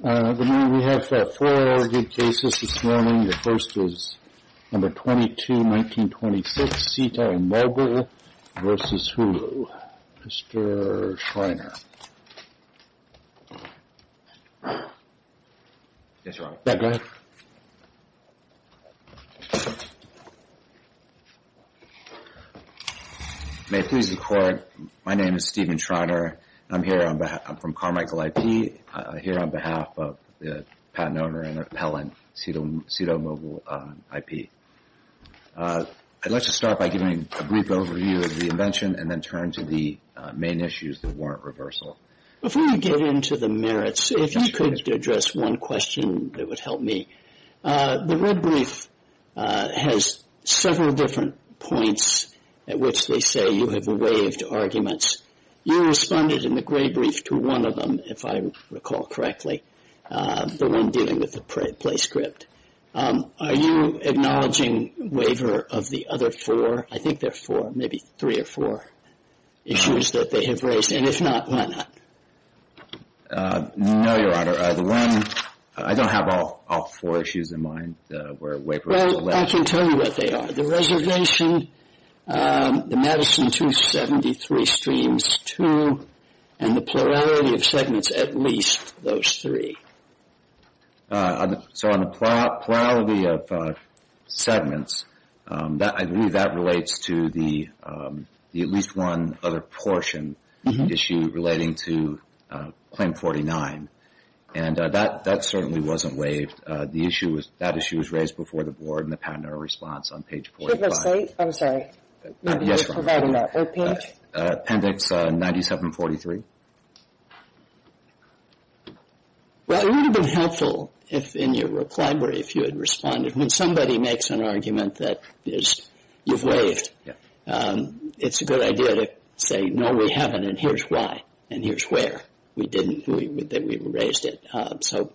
We have four good cases this morning. The first is No. 22, 1926, SITO and Mobile v. Hulu. Mr. Schreiner. Yes, Your Honor. Yeah, go ahead. May it please the Court, my name is Stephen Schreiner. I'm from Carmichael IP, here on behalf of the patent owner and appellant, SITO Mobile IP. I'd like to start by giving a brief overview of the invention and then turn to the main issues that warrant reversal. Before we get into the merits, if you could address one question that would help me. The red brief has several different points at which they say you have waived arguments. You responded in the gray brief to one of them, if I recall correctly, the one dealing with the play script. Are you acknowledging waiver of the other four? I think there are four, maybe three or four issues that they have raised, and if not, why not? No, Your Honor. I don't have all four issues in mind where waiver is alleged. Well, I can tell you what they are. The reservation, the Madison 273 streams two, and the plurality of segments at least those three. So on the plurality of segments, I believe that relates to the at least one other portion issue relating to claim 49. And that certainly wasn't waived. That issue was raised before the board in the patent owner response on page 45. I'm sorry. Yes, Your Honor. Appendix 9743. Well, it would have been helpful in your reply if you had responded. When somebody makes an argument that you've waived, it's a good idea to say, no, we haven't, and here's why, and here's where. We didn't, we raised it. So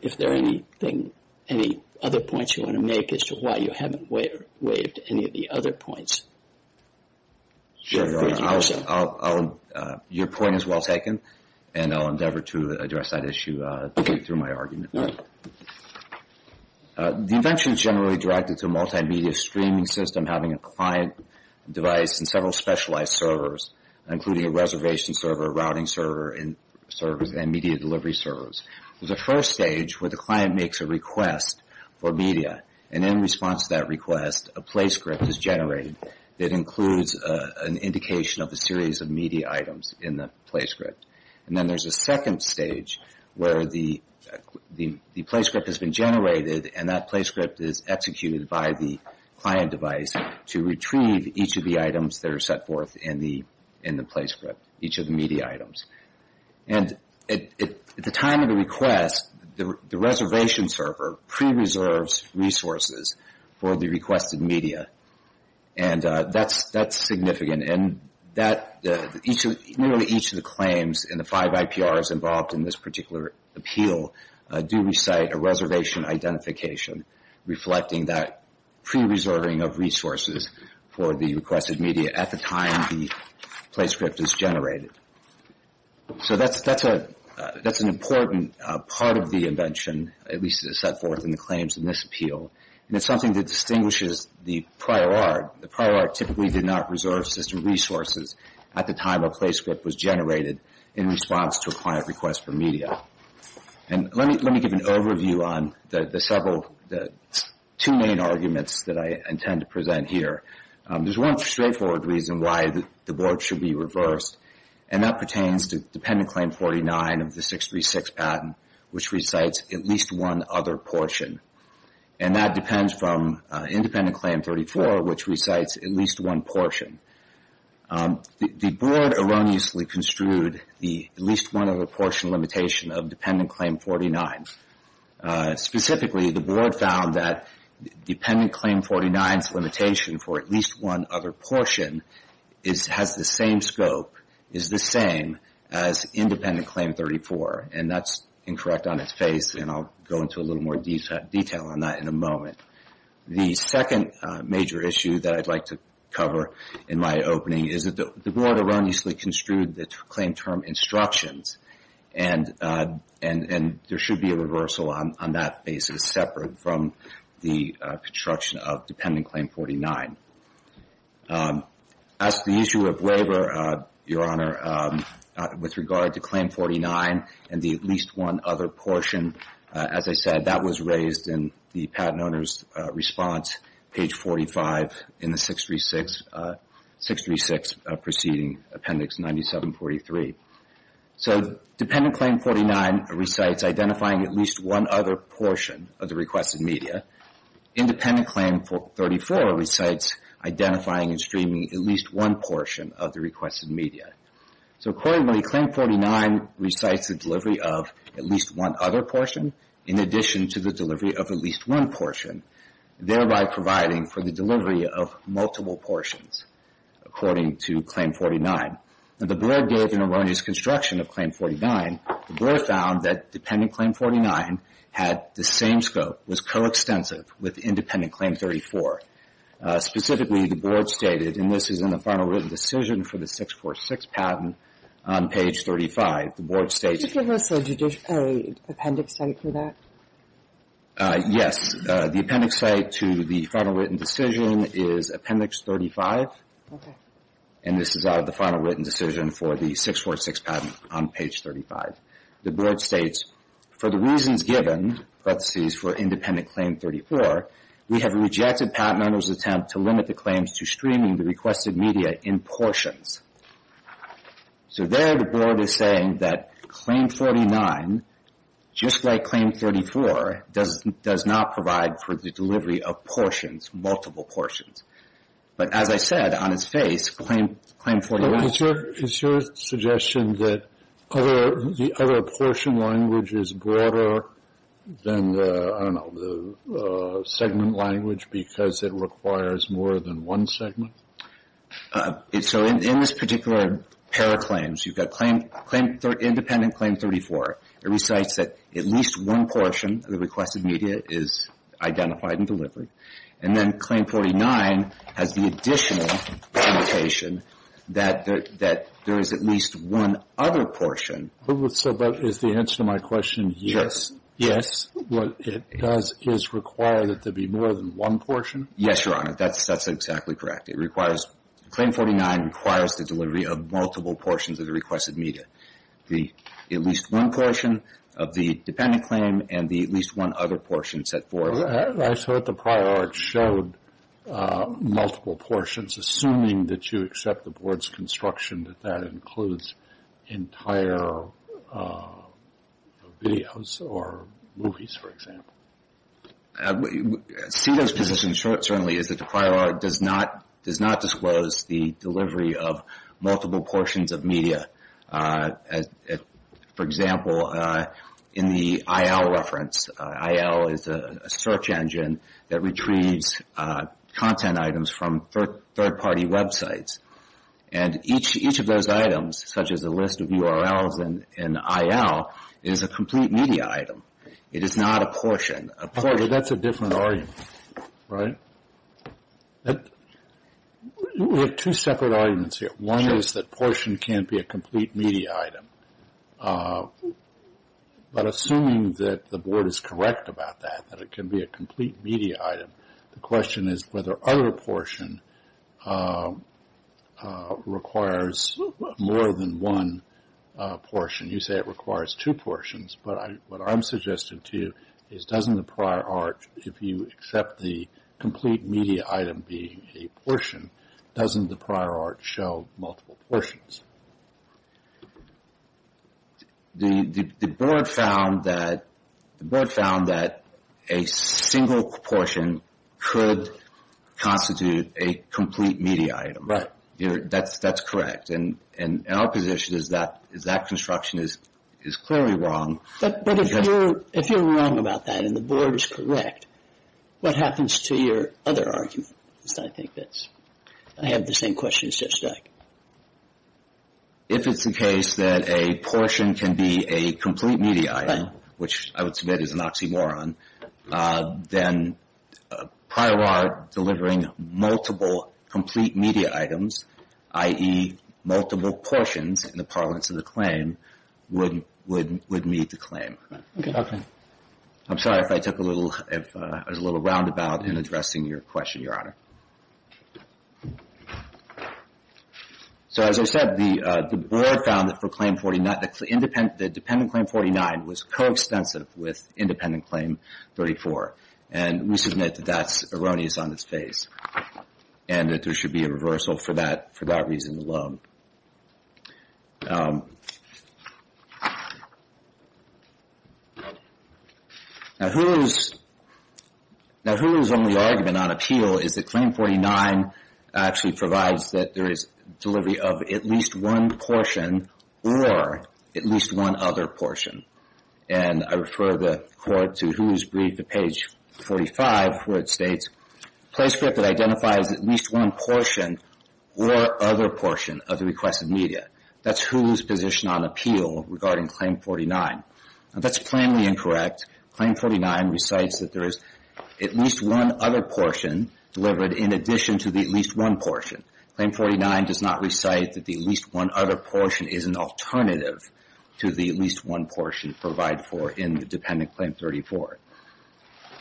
if there are any other points you want to make as to why you haven't waived any of the other points. Sure, Your Honor. Your point is well taken, and I'll endeavor to address that issue through my argument. The invention is generally directed to a multimedia streaming system having a client device and several specialized servers, including a reservation server, a routing server, and media delivery servers. There's a first stage where the client makes a request for media, and in response to that request, a play script is generated that includes an indication of a series of media items in the play script. And then there's a second stage where the play script has been generated, and that play script is executed by the client device to retrieve each of the items that are set forth in the play script, each of the media items. And at the time of the request, the reservation server pre-reserves resources for the requested media, and that's significant. Nearly each of the claims in the five IPRs involved in this particular appeal do recite a reservation identification, reflecting that pre-reserving of resources for the requested media at the time the play script is generated. So that's an important part of the invention, at least as it's set forth in the claims in this appeal. And it's something that distinguishes the prior art. The prior art typically did not reserve system resources at the time a play script was generated in response to a client request for media. And let me give an overview on the two main arguments that I intend to present here. There's one straightforward reason why the board should be reversed, and that pertains to Dependent Claim 49 of the 636 patent, which recites at least one other portion. And that depends from Independent Claim 34, which recites at least one portion. The board erroneously construed the at least one other portion limitation of Dependent Claim 49. Specifically, the board found that Dependent Claim 49's limitation for at least one other portion has the same scope, is the same as Independent Claim 34. And that's incorrect on its face, and I'll go into a little more detail on that in a moment. The second major issue that I'd like to cover in my opening is that the board erroneously construed the claim term instructions, and there should be a reversal on that basis separate from the construction of Dependent Claim 49. As to the issue of waiver, Your Honor, with regard to Claim 49 and the at least one other portion, as I said, that was raised in the patent owner's response, page 45 in the 636 preceding Appendix 9743. So Dependent Claim 49 recites identifying at least one other portion of the requested media. Independent Claim 34 recites identifying and streaming at least one portion of the requested media. So accordingly, Claim 49 recites the delivery of at least one other portion, in addition to the delivery of at least one portion, thereby providing for the delivery of multiple portions, according to Claim 49. The board gave an erroneous construction of Claim 49. The board found that Dependent Claim 49 had the same scope, was coextensive with Independent Claim 34. Specifically, the board stated, and this is in the final written decision for the 646 patent on page 35, the board states Did you give us an appendix for that? Yes. The appendix to the final written decision is Appendix 35. And this is out of the final written decision for the 646 patent on page 35. The board states, for the reasons given, parentheses for Independent Claim 34, we have rejected patent owner's attempt to limit the claims to streaming the requested media in portions. So there the board is saying that Claim 49, just like Claim 34, does not provide for the delivery of portions, multiple portions. But as I said, on its face, Claim 41 Is your suggestion that the other portion language is broader than the, I don't know, the segment language because it requires more than one segment? So in this particular pair of claims, you've got Independent Claim 34. It recites that at least one portion of the requested media is identified in delivery. And then Claim 49 has the additional limitation that there is at least one other portion. So is the answer to my question yes? Yes. What it does is require that there be more than one portion? Yes, Your Honor. That's exactly correct. It requires, Claim 49 requires the delivery of multiple portions of the requested media. The at least one portion of the Dependent Claim and the at least one other portion set forth. I thought the prior art showed multiple portions. Assuming that you accept the board's construction, that that includes entire videos or movies, for example. CEDA's position certainly is that the prior art does not disclose the delivery of multiple portions of media. For example, in the IL reference, IL is a search engine that retrieves content items from third-party websites. And each of those items, such as a list of URLs in IL, is a complete media item. It is not a portion. But that's a different argument, right? We have two separate arguments here. One is that portion can't be a complete media item. But assuming that the board is correct about that, that it can be a complete media item, the question is whether other portion requires more than one portion. You say it requires two portions. But what I'm suggesting to you is doesn't the prior art, if you accept the complete media item being a portion, doesn't the prior art show multiple portions? The board found that a single portion could constitute a complete media item. Right. That's correct. And our position is that construction is clearly wrong. But if you're wrong about that and the board is correct, what happens to your other argument? Because I think that I have the same questions just like. If it's the case that a portion can be a complete media item, which I would submit is an oxymoron, then prior art delivering multiple complete media items, i.e. multiple portions in the parlance of the claim, would meet the claim. Okay. I'm sorry if I took a little roundabout in addressing your question, Your Honor. So as I said, the board found that for claim 49, the dependent claim 49 was coextensive with independent claim 34. And we submit that that's erroneous on its face. And that there should be a reversal for that reason alone. Now, Hulu's only argument on appeal is that claim 49 actually provides that there is delivery of at least one portion or at least one other portion. And I refer the court to Hulu's brief at page 45, where it states, Playscript that identifies at least one portion or other portion of the requested media. That's Hulu's position on appeal regarding claim 49. Now, that's plainly incorrect. Claim 49 recites that there is at least one other portion delivered in addition to the at least one portion. Claim 49 does not recite that the at least one other portion is an alternative to the at least one portion provided for in the dependent claim 34.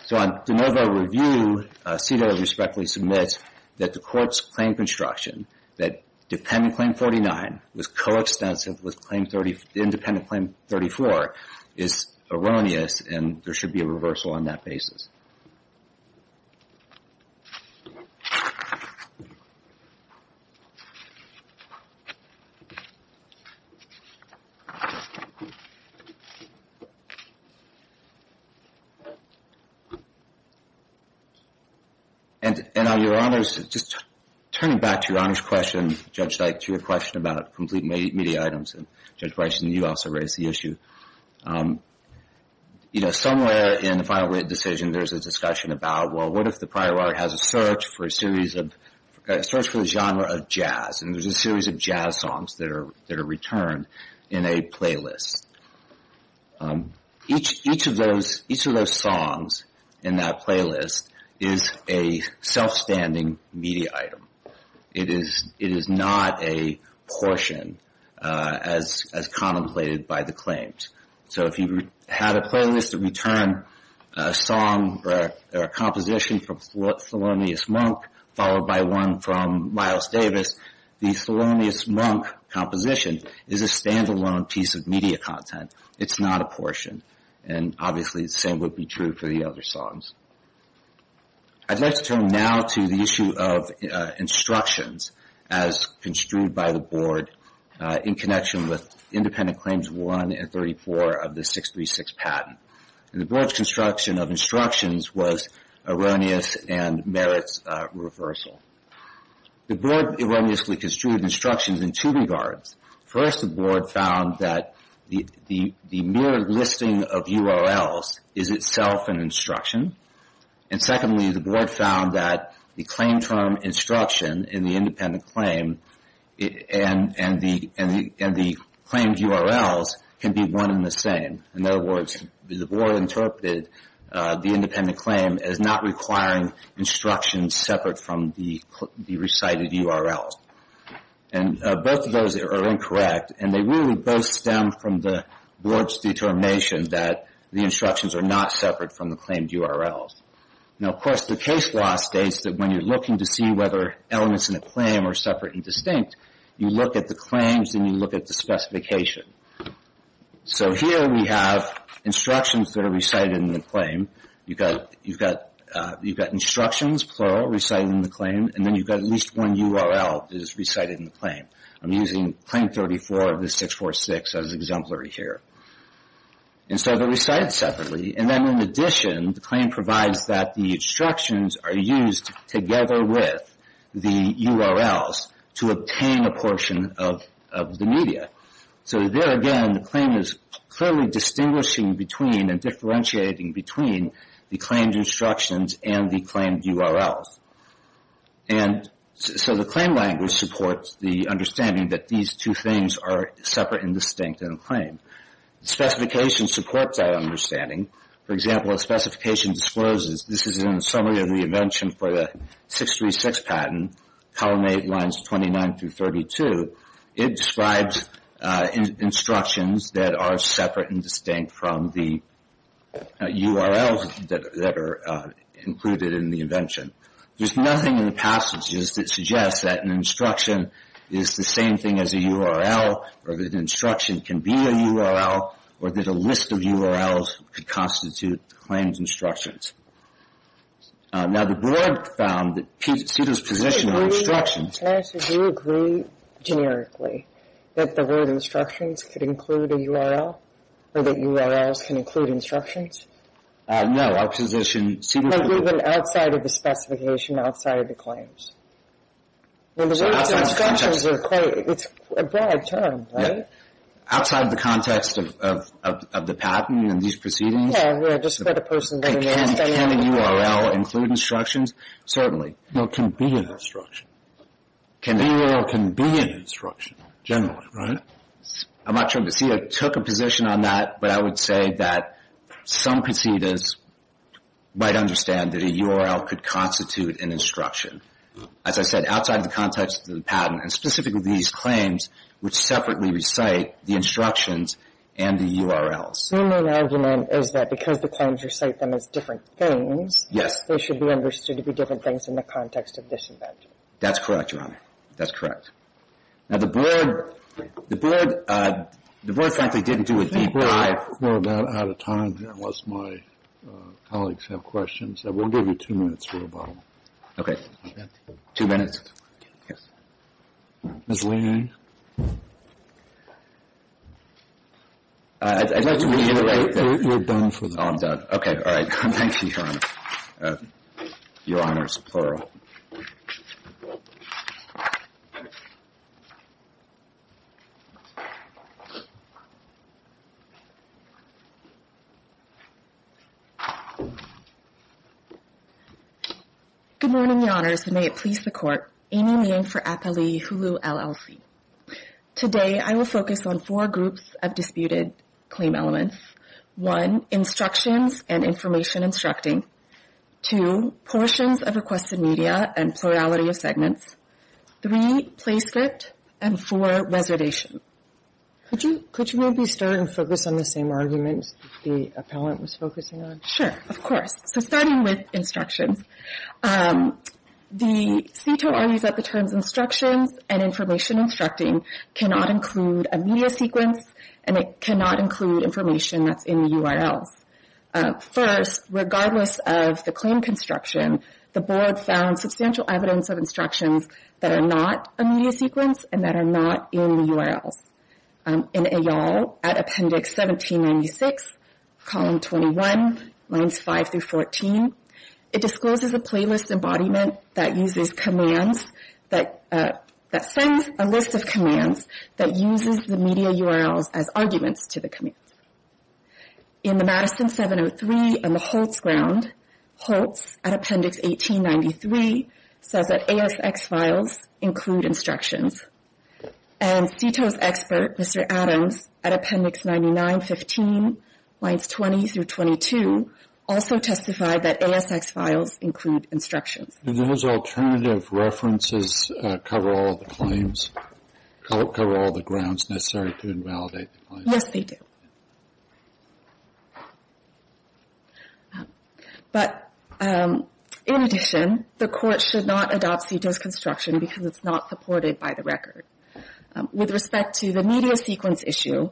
So on de novo review, CEDAW respectfully submits that the court's claim construction, that dependent claim 49 was coextensive with independent claim 34, is erroneous and there should be a reversal on that basis. Thank you. And Your Honors, just turning back to Your Honors' question, Judge Dyke, to your question about complete media items, and Judge Bryson, you also raised the issue. You know, somewhere in the final decision, there's a discussion about, well, what if the prior art has a search for a series of, a search for the genre of jazz? And there's a series of jazz songs that are returned in a playlist. Each of those songs in that playlist is a self-standing media item. It is not a portion as contemplated by the claims. So if you had a playlist that returned a song or a composition from Thelonious Monk, followed by one from Miles Davis, the Thelonious Monk composition is a stand-alone piece of media content. It's not a portion. And obviously the same would be true for the other songs. I'd like to turn now to the issue of instructions as construed by the board in connection with Independent Claims 1 and 34 of the 636 patent. And the board's construction of instructions was erroneous and merits reversal. The board erroneously construed instructions in two regards. First, the board found that the mere listing of URLs is itself an instruction. And secondly, the board found that the claim term instruction in the independent claim and the claimed URLs can be one and the same. In other words, the board interpreted the independent claim as not requiring instructions separate from the recited URLs. And both of those are incorrect. And they really both stem from the board's determination that the instructions are not separate from the claimed URLs. Now, of course, the case law states that when you're looking to see whether elements in a claim are separate and distinct, you look at the claims and you look at the specification. So here we have instructions that are recited in the claim. You've got instructions, plural, recited in the claim. And then you've got at least one URL that is recited in the claim. I'm using Claim 34 of the 646 as exemplary here. And so they're recited separately. And then in addition, the claim provides that the instructions are used together with the URLs to obtain a portion of the media. So there again, the claim is clearly distinguishing between and differentiating between the claimed instructions and the claimed URLs. And so the claim language supports the understanding that these two things are separate and distinct in a claim. Specification supports that understanding. For example, a specification discloses this is in a summary of the invention for the 636 patent, column 8, lines 29 through 32. It describes instructions that are separate and distinct from the URLs that are included in the invention. There's nothing in the passages that suggests that an instruction is the same thing as a URL, or that an instruction can be a URL, or that a list of URLs could constitute the claimed instructions. Now, the board found that CDER's position on instructions... Can I ask if you agree, generically, that the word instructions could include a URL, or that URLs can include instructions? No, our position... Even outside of the specification, outside of the claims? The word instructions is a broad term, right? Outside of the context of the patent and these proceedings? Yeah, I just read a person... Can a URL include instructions? Certainly. No, it can be an instruction. A URL can be an instruction, generally, right? I'm not sure if CDER took a position on that, but I would say that some conceders might understand that a URL could constitute an instruction. As I said, outside of the context of the patent, and specifically these claims, which separately recite the instructions and the URLs. Your main argument is that because the claims recite them as different things, they should be understood to be different things in the context of this invention. That's correct, Your Honor. That's correct. Now, the board frankly didn't do a deep dive... I think we're about out of time, unless my colleagues have questions. We'll give you two minutes for rebuttal. Okay. Two minutes? Yes. Ms. Lane? I'd like to reiterate that... You're done for the day. Oh, I'm done. Okay, all right. Thank you, Your Honor. Your Honor's plural. Good morning, Your Honors, and may it please the Court. Amy Meehan for APALE Hulu LLC. Today, I will focus on four groups of disputed claim elements. One, instructions and information instructing. Two, portions of requested media and plurality of segments. Three, play script. And four, reservation. Could you maybe start and focus on the same arguments the appellant was focusing on? Sure, of course. So starting with instructions, the CTO argues that the terms instructions and information instructing cannot include a media sequence, and it cannot include information that's in the URLs. First, regardless of the claim construction, the Board found substantial evidence of instructions that are not a media sequence and that are not in the URLs. In AYAL, at Appendix 1796, Column 21, Lines 5 through 14, it discloses a playlist embodiment that sends a list of commands that uses the media URLs as arguments to the commands. In the Madison 703 and the Holtz Ground, Holtz, at Appendix 1893, says that ASX files include instructions. And CTO's expert, Mr. Adams, at Appendix 9915, Lines 20 through 22, also testified that ASX files include instructions. Do those alternative references cover all the claims, cover all the grounds necessary to invalidate the claims? Yes, they do. But, in addition, the Court should not adopt CTO's construction because it's not supported by the record. With respect to the media sequence issue,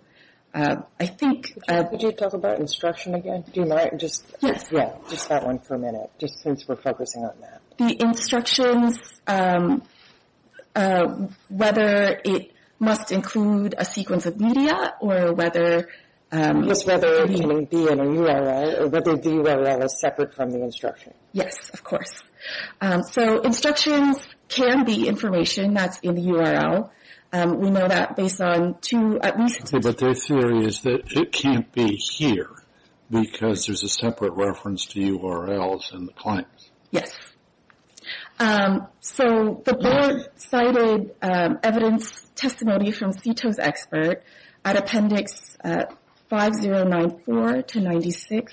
I think... Could you talk about instruction again? Yes. Just that one for a minute, just since we're focusing on that. The instructions, whether it must include a sequence of media or whether... Just whether it can be in a URL or whether the URL is separate from the instruction. Yes, of course. So instructions can be information that's in the URL. We know that based on two, at least... Okay, but their theory is that it can't be here because there's a separate reference to URLs in the claims. Yes. So the Board cited evidence testimony from CTO's expert at Appendix 5094 to 96,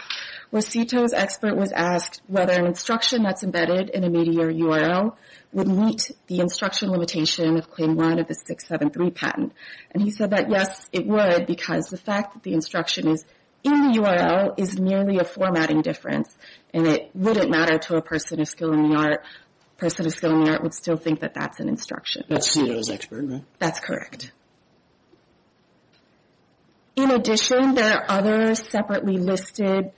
where CTO's expert was asked whether an instruction that's embedded in a media URL would meet the instruction limitation of Claim 1 of the 673 patent. And he said that, yes, it would, because the fact that the instruction is in the URL is merely a formatting difference, and it wouldn't matter to a person of skill in the art. A person of skill in the art would still think that that's an instruction. That's CTO's expert, right? That's correct. In addition, there are other separately listed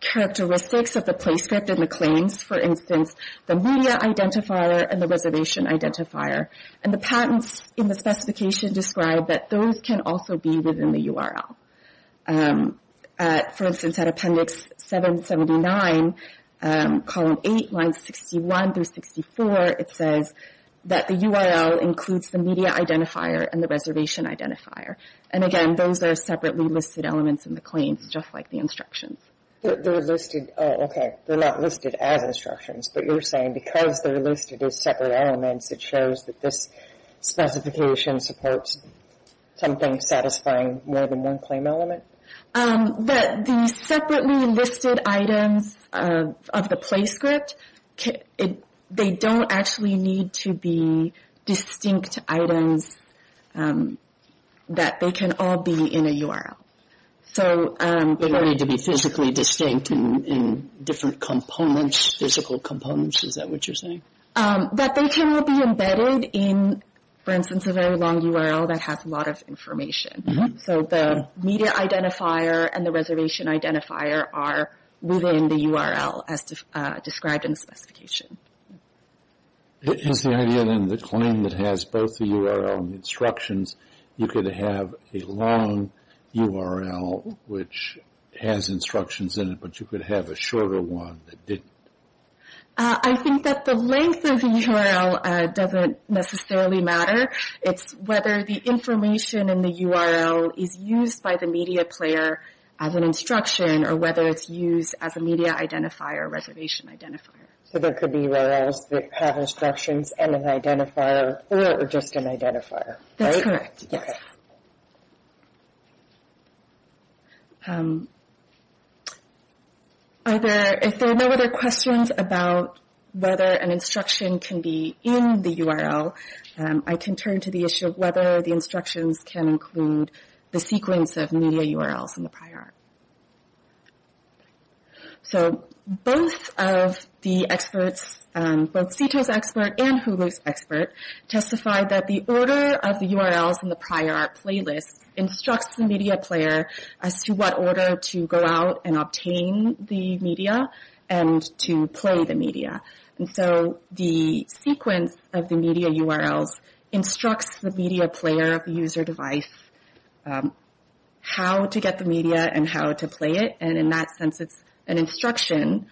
characteristics of the play script in the claims. For instance, the media identifier and the reservation identifier. And the patents in the specification describe that those can also be within the URL. For instance, at Appendix 779, Column 8, Lines 61 through 64, it says that the URL includes the media identifier and the reservation identifier. And, again, those are separately listed elements in the claims, just like the instructions. They're listed as instructions, but you're saying because they're listed as separate elements, it shows that this specification supports something satisfying more than one claim element? The separately listed items of the play script, they don't actually need to be distinct items that they can all be in a URL. They don't need to be physically distinct in different components, physical components? Is that what you're saying? That they can all be embedded in, for instance, a very long URL that has a lot of information. So the media identifier and the reservation identifier are within the URL as described in the specification. Is the idea, then, the claim that has both the URL and the instructions, you could have a long URL which has instructions in it, but you could have a shorter one that didn't? I think that the length of the URL doesn't necessarily matter. It's whether the information in the URL is used by the media player as an instruction or whether it's used as a media identifier or reservation identifier. So there could be URLs that have instructions and an identifier or just an identifier, right? That's correct, yes. If there are no other questions about whether an instruction can be in the URL, I can turn to the issue of whether the instructions can include the sequence of media URLs in the prior art. So both of the experts, both Sito's expert and Hulu's expert, testified that the order of the URLs in the prior art playlist instructs the media player as to what order to go out and obtain the media and to play the media. And so the sequence of the media URLs instructs the media player of the user device how to get the media and how to play it, and in that sense it's an instruction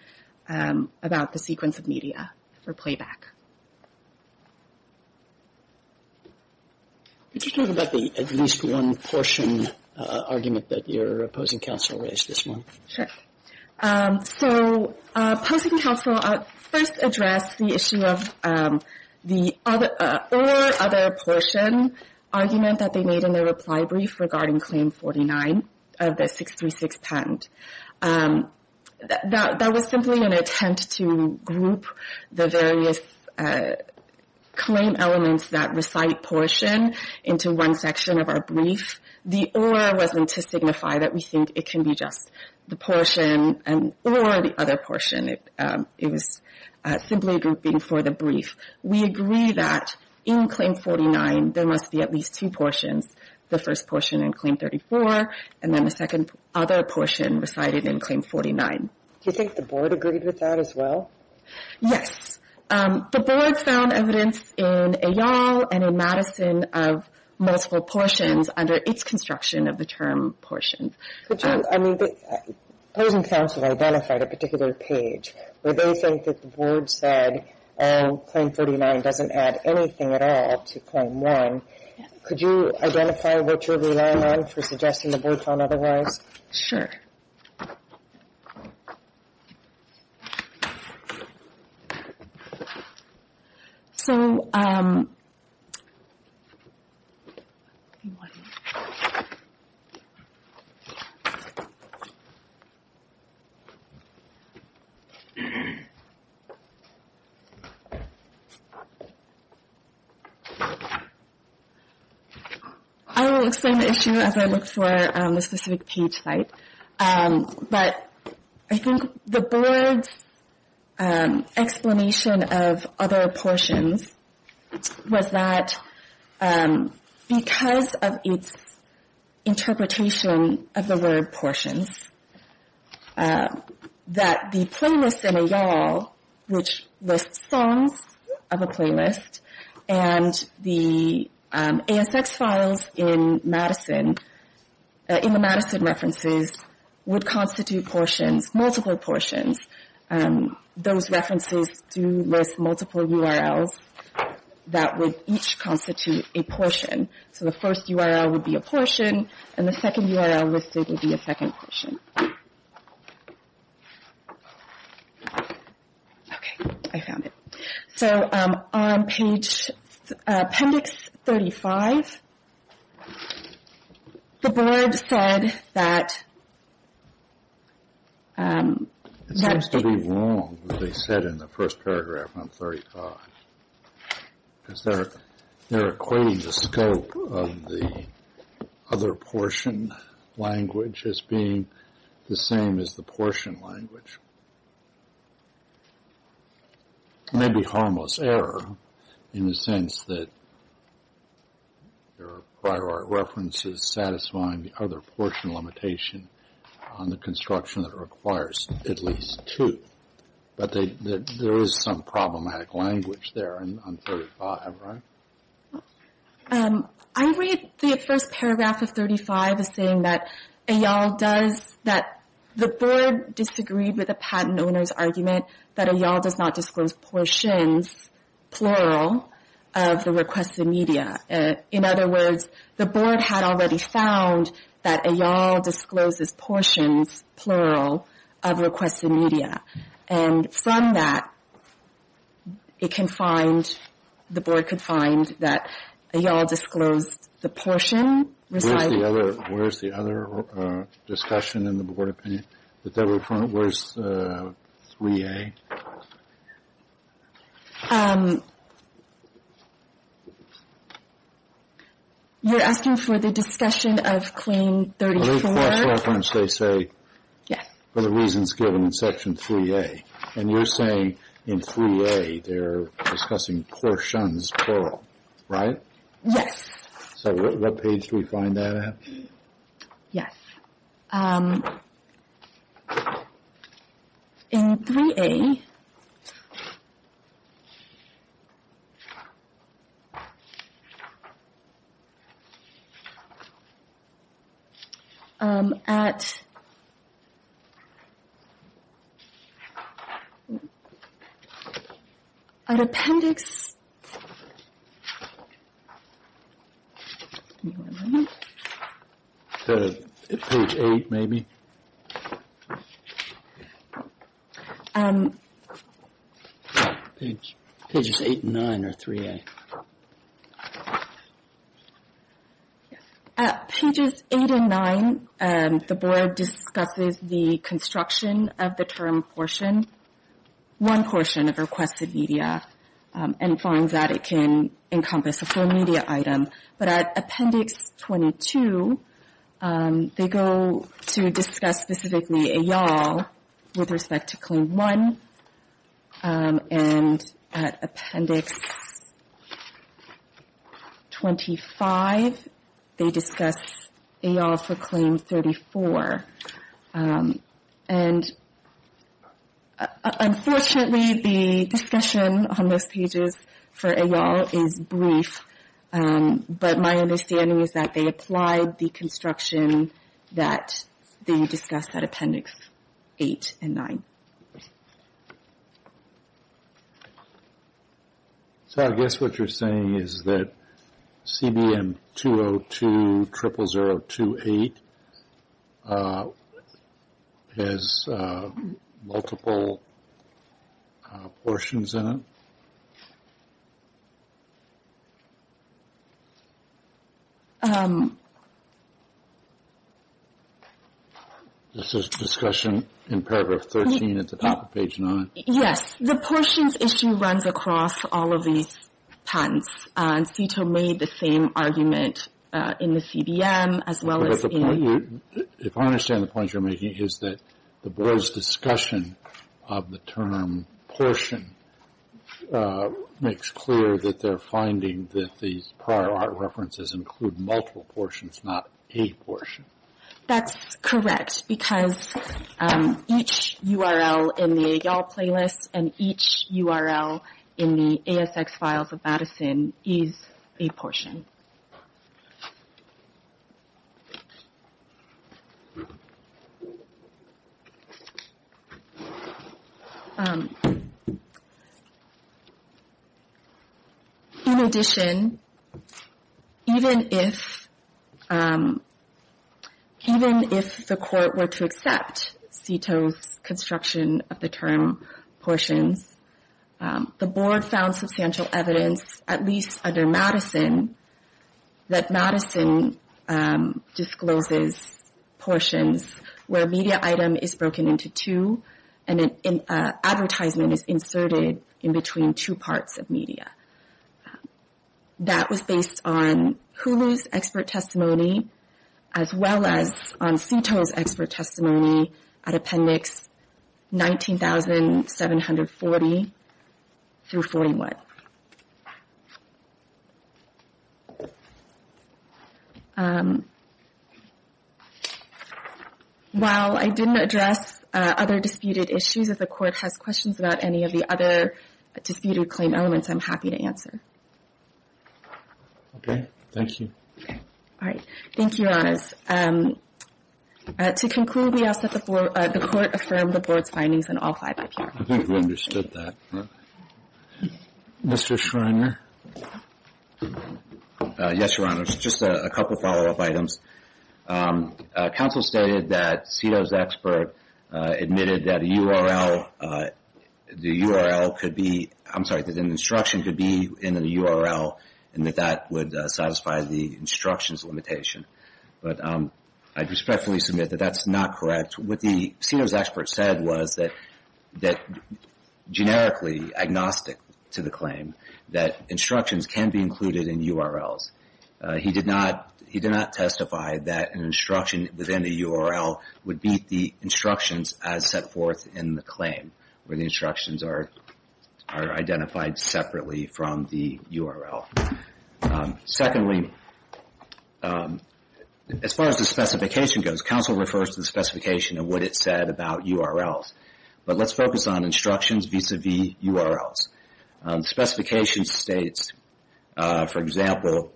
about the sequence of media for playback. Could you talk about the at least one portion argument that your opposing counsel raised this morning? Sure. So opposing counsel first addressed the issue of the or other portion argument that they made in their reply brief regarding Claim 49 of the 636 patent. That was simply an attempt to group the various claim elements that recite portion into one section of our brief. The or wasn't to signify that we think it can be just the portion or the other portion. We agree that in Claim 49 there must be at least two portions. The first portion in Claim 34 and then the second other portion recited in Claim 49. Do you think the board agreed with that as well? Yes. The board found evidence in et al and in Madison of multiple portions under its construction of the term portion. Opposing counsel identified a particular page where they think that the board said, oh, Claim 49 doesn't add anything at all to Claim 1. Could you identify what you're relying on for suggesting the board found otherwise? Sure. So I will explain the issue as I look for the specific page site. But I think the board's explanation of other portions was that because of its interpretation of the word portions, that the playlist in et al, which lists songs of a playlist, and the ASX files in Madison, in the Madison references, would constitute portions, multiple portions. Those references do list multiple URLs that would each constitute a portion. So the first URL would be a portion and the second URL listed would be a second portion. Okay, I found it. So on appendix 35, the board said that... It seems to be wrong what they said in the first paragraph on 35. Because they're equating the scope of the other portion language as being the same as the portion language. It may be harmless error in the sense that there are prior art references satisfying the other portion limitation on the construction that requires at least two. But there is some problematic language there on 35, right? I read the first paragraph of 35 as saying that et al does... That the board disagreed with the patent owner's argument that et al does not disclose portions, plural, of the requested media. In other words, the board had already found that et al discloses portions, plural, of requested media. And from that, it can find... The board could find that et al disclosed the portion... Where's the other discussion in the board opinion? Where's 3A? You're asking for the discussion of claim 34? In the last reference, they say, for the reasons given in section 3A. And you're saying in 3A, they're discussing portions, plural, right? Yes. So what page do we find that at? Yes. In 3A... At... At appendix... Page 8, maybe? Pages 8 and 9 are 3A. Yes. At pages 8 and 9, the board discusses the construction of the term portion. One portion of requested media. And finds that it can encompass a full media item. But at appendix 22, they go to discuss specifically et al with respect to claim 1. And at appendix 25, they discuss et al for claim 34. And unfortunately, the discussion on those pages for et al is brief. But my understanding is that they applied the construction that they discussed at appendix 8 and 9. So I guess what you're saying is that CBM-202-00028 has multiple portions in it? This is discussion in paragraph 13 at the top of page 9? Yes. The portions issue runs across all of these patents. And CTO made the same argument in the CBM, as well as in... But the point you're... If I understand the points you're making, is that the board's discussion of the term portion makes clear that they're finding that these prior art references include multiple portions, not a portion. That's correct. Because each URL in the y'all playlist and each URL in the ASX files of Madison is a portion. In addition, even if the court were to accept CTO's construction of the term portions, the board found substantial evidence, at least under Madison, that Madison discloses portions where a media item is broken into two and an advertisement is inserted in between two parts of media. That was based on HULU's expert testimony, as well as on CTO's expert testimony at appendix 19,740 through 41. While I didn't address other disputed issues, if the court has questions about any of the other disputed claim elements, I'm happy to answer. Okay. Thank you. All right. Thank you, Your Honors. To conclude, we ask that the court affirm the board's findings and I'll call you back here. I think we understood that. Mr. Schreiner? Yes, Your Honors. Just a couple follow-up items. Counsel stated that CTO's expert admitted that the URL could be... I'm sorry, that an instruction could be in the URL and that that would satisfy the instructions limitation. But I respectfully submit that that's not correct. What the CTO's expert said was that generically agnostic to the claim, that instructions can be included in URLs. He did not testify that an instruction within the URL would meet the instructions as set forth in the claim, where the instructions are identified separately from the URL. Secondly, as far as the specification goes, counsel refers to the specification of what it said about URLs. But let's focus on instructions vis-a-vis URLs. Specification states, for example,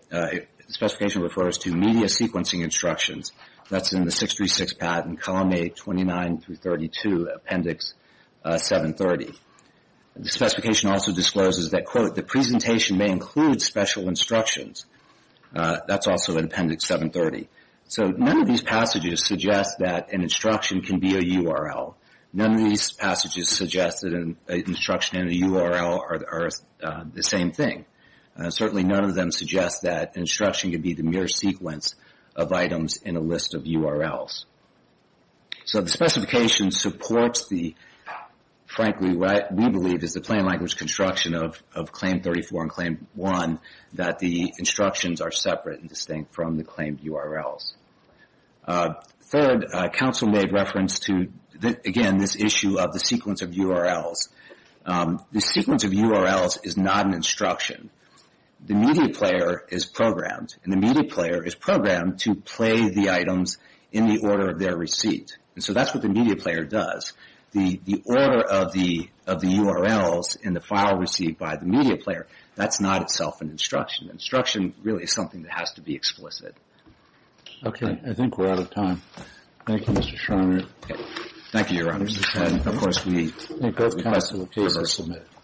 specification refers to media sequencing instructions. That's in the 636 patent, column 8, 29-32, appendix 730. The specification also discloses that, quote, the presentation may include special instructions. That's also in appendix 730. So none of these passages suggest that an instruction can be a URL. None of these passages suggest that an instruction and a URL are the same thing. Certainly none of them suggest that an instruction can be the mere sequence of items in a list of URLs. So the specification supports the, frankly, what we believe is the plain language construction of Claim 34 and Claim 1, that the instructions are separate and distinct from the claimed URLs. Third, counsel made reference to, again, this issue of the sequence of URLs. The sequence of URLs is not an instruction. The media player is programmed, and the media player is programmed to play the items in the order of their receipt. And so that's what the media player does. The order of the URLs in the file received by the media player, that's not itself an instruction. Instruction really is something that has to be explicit. Okay, I think we're out of time. Thank you, Mr. Schreiner. Thank you, Your Honors. Thank you, Mr. Schreiner. And, of course, we thank both counsel and peers who submitted.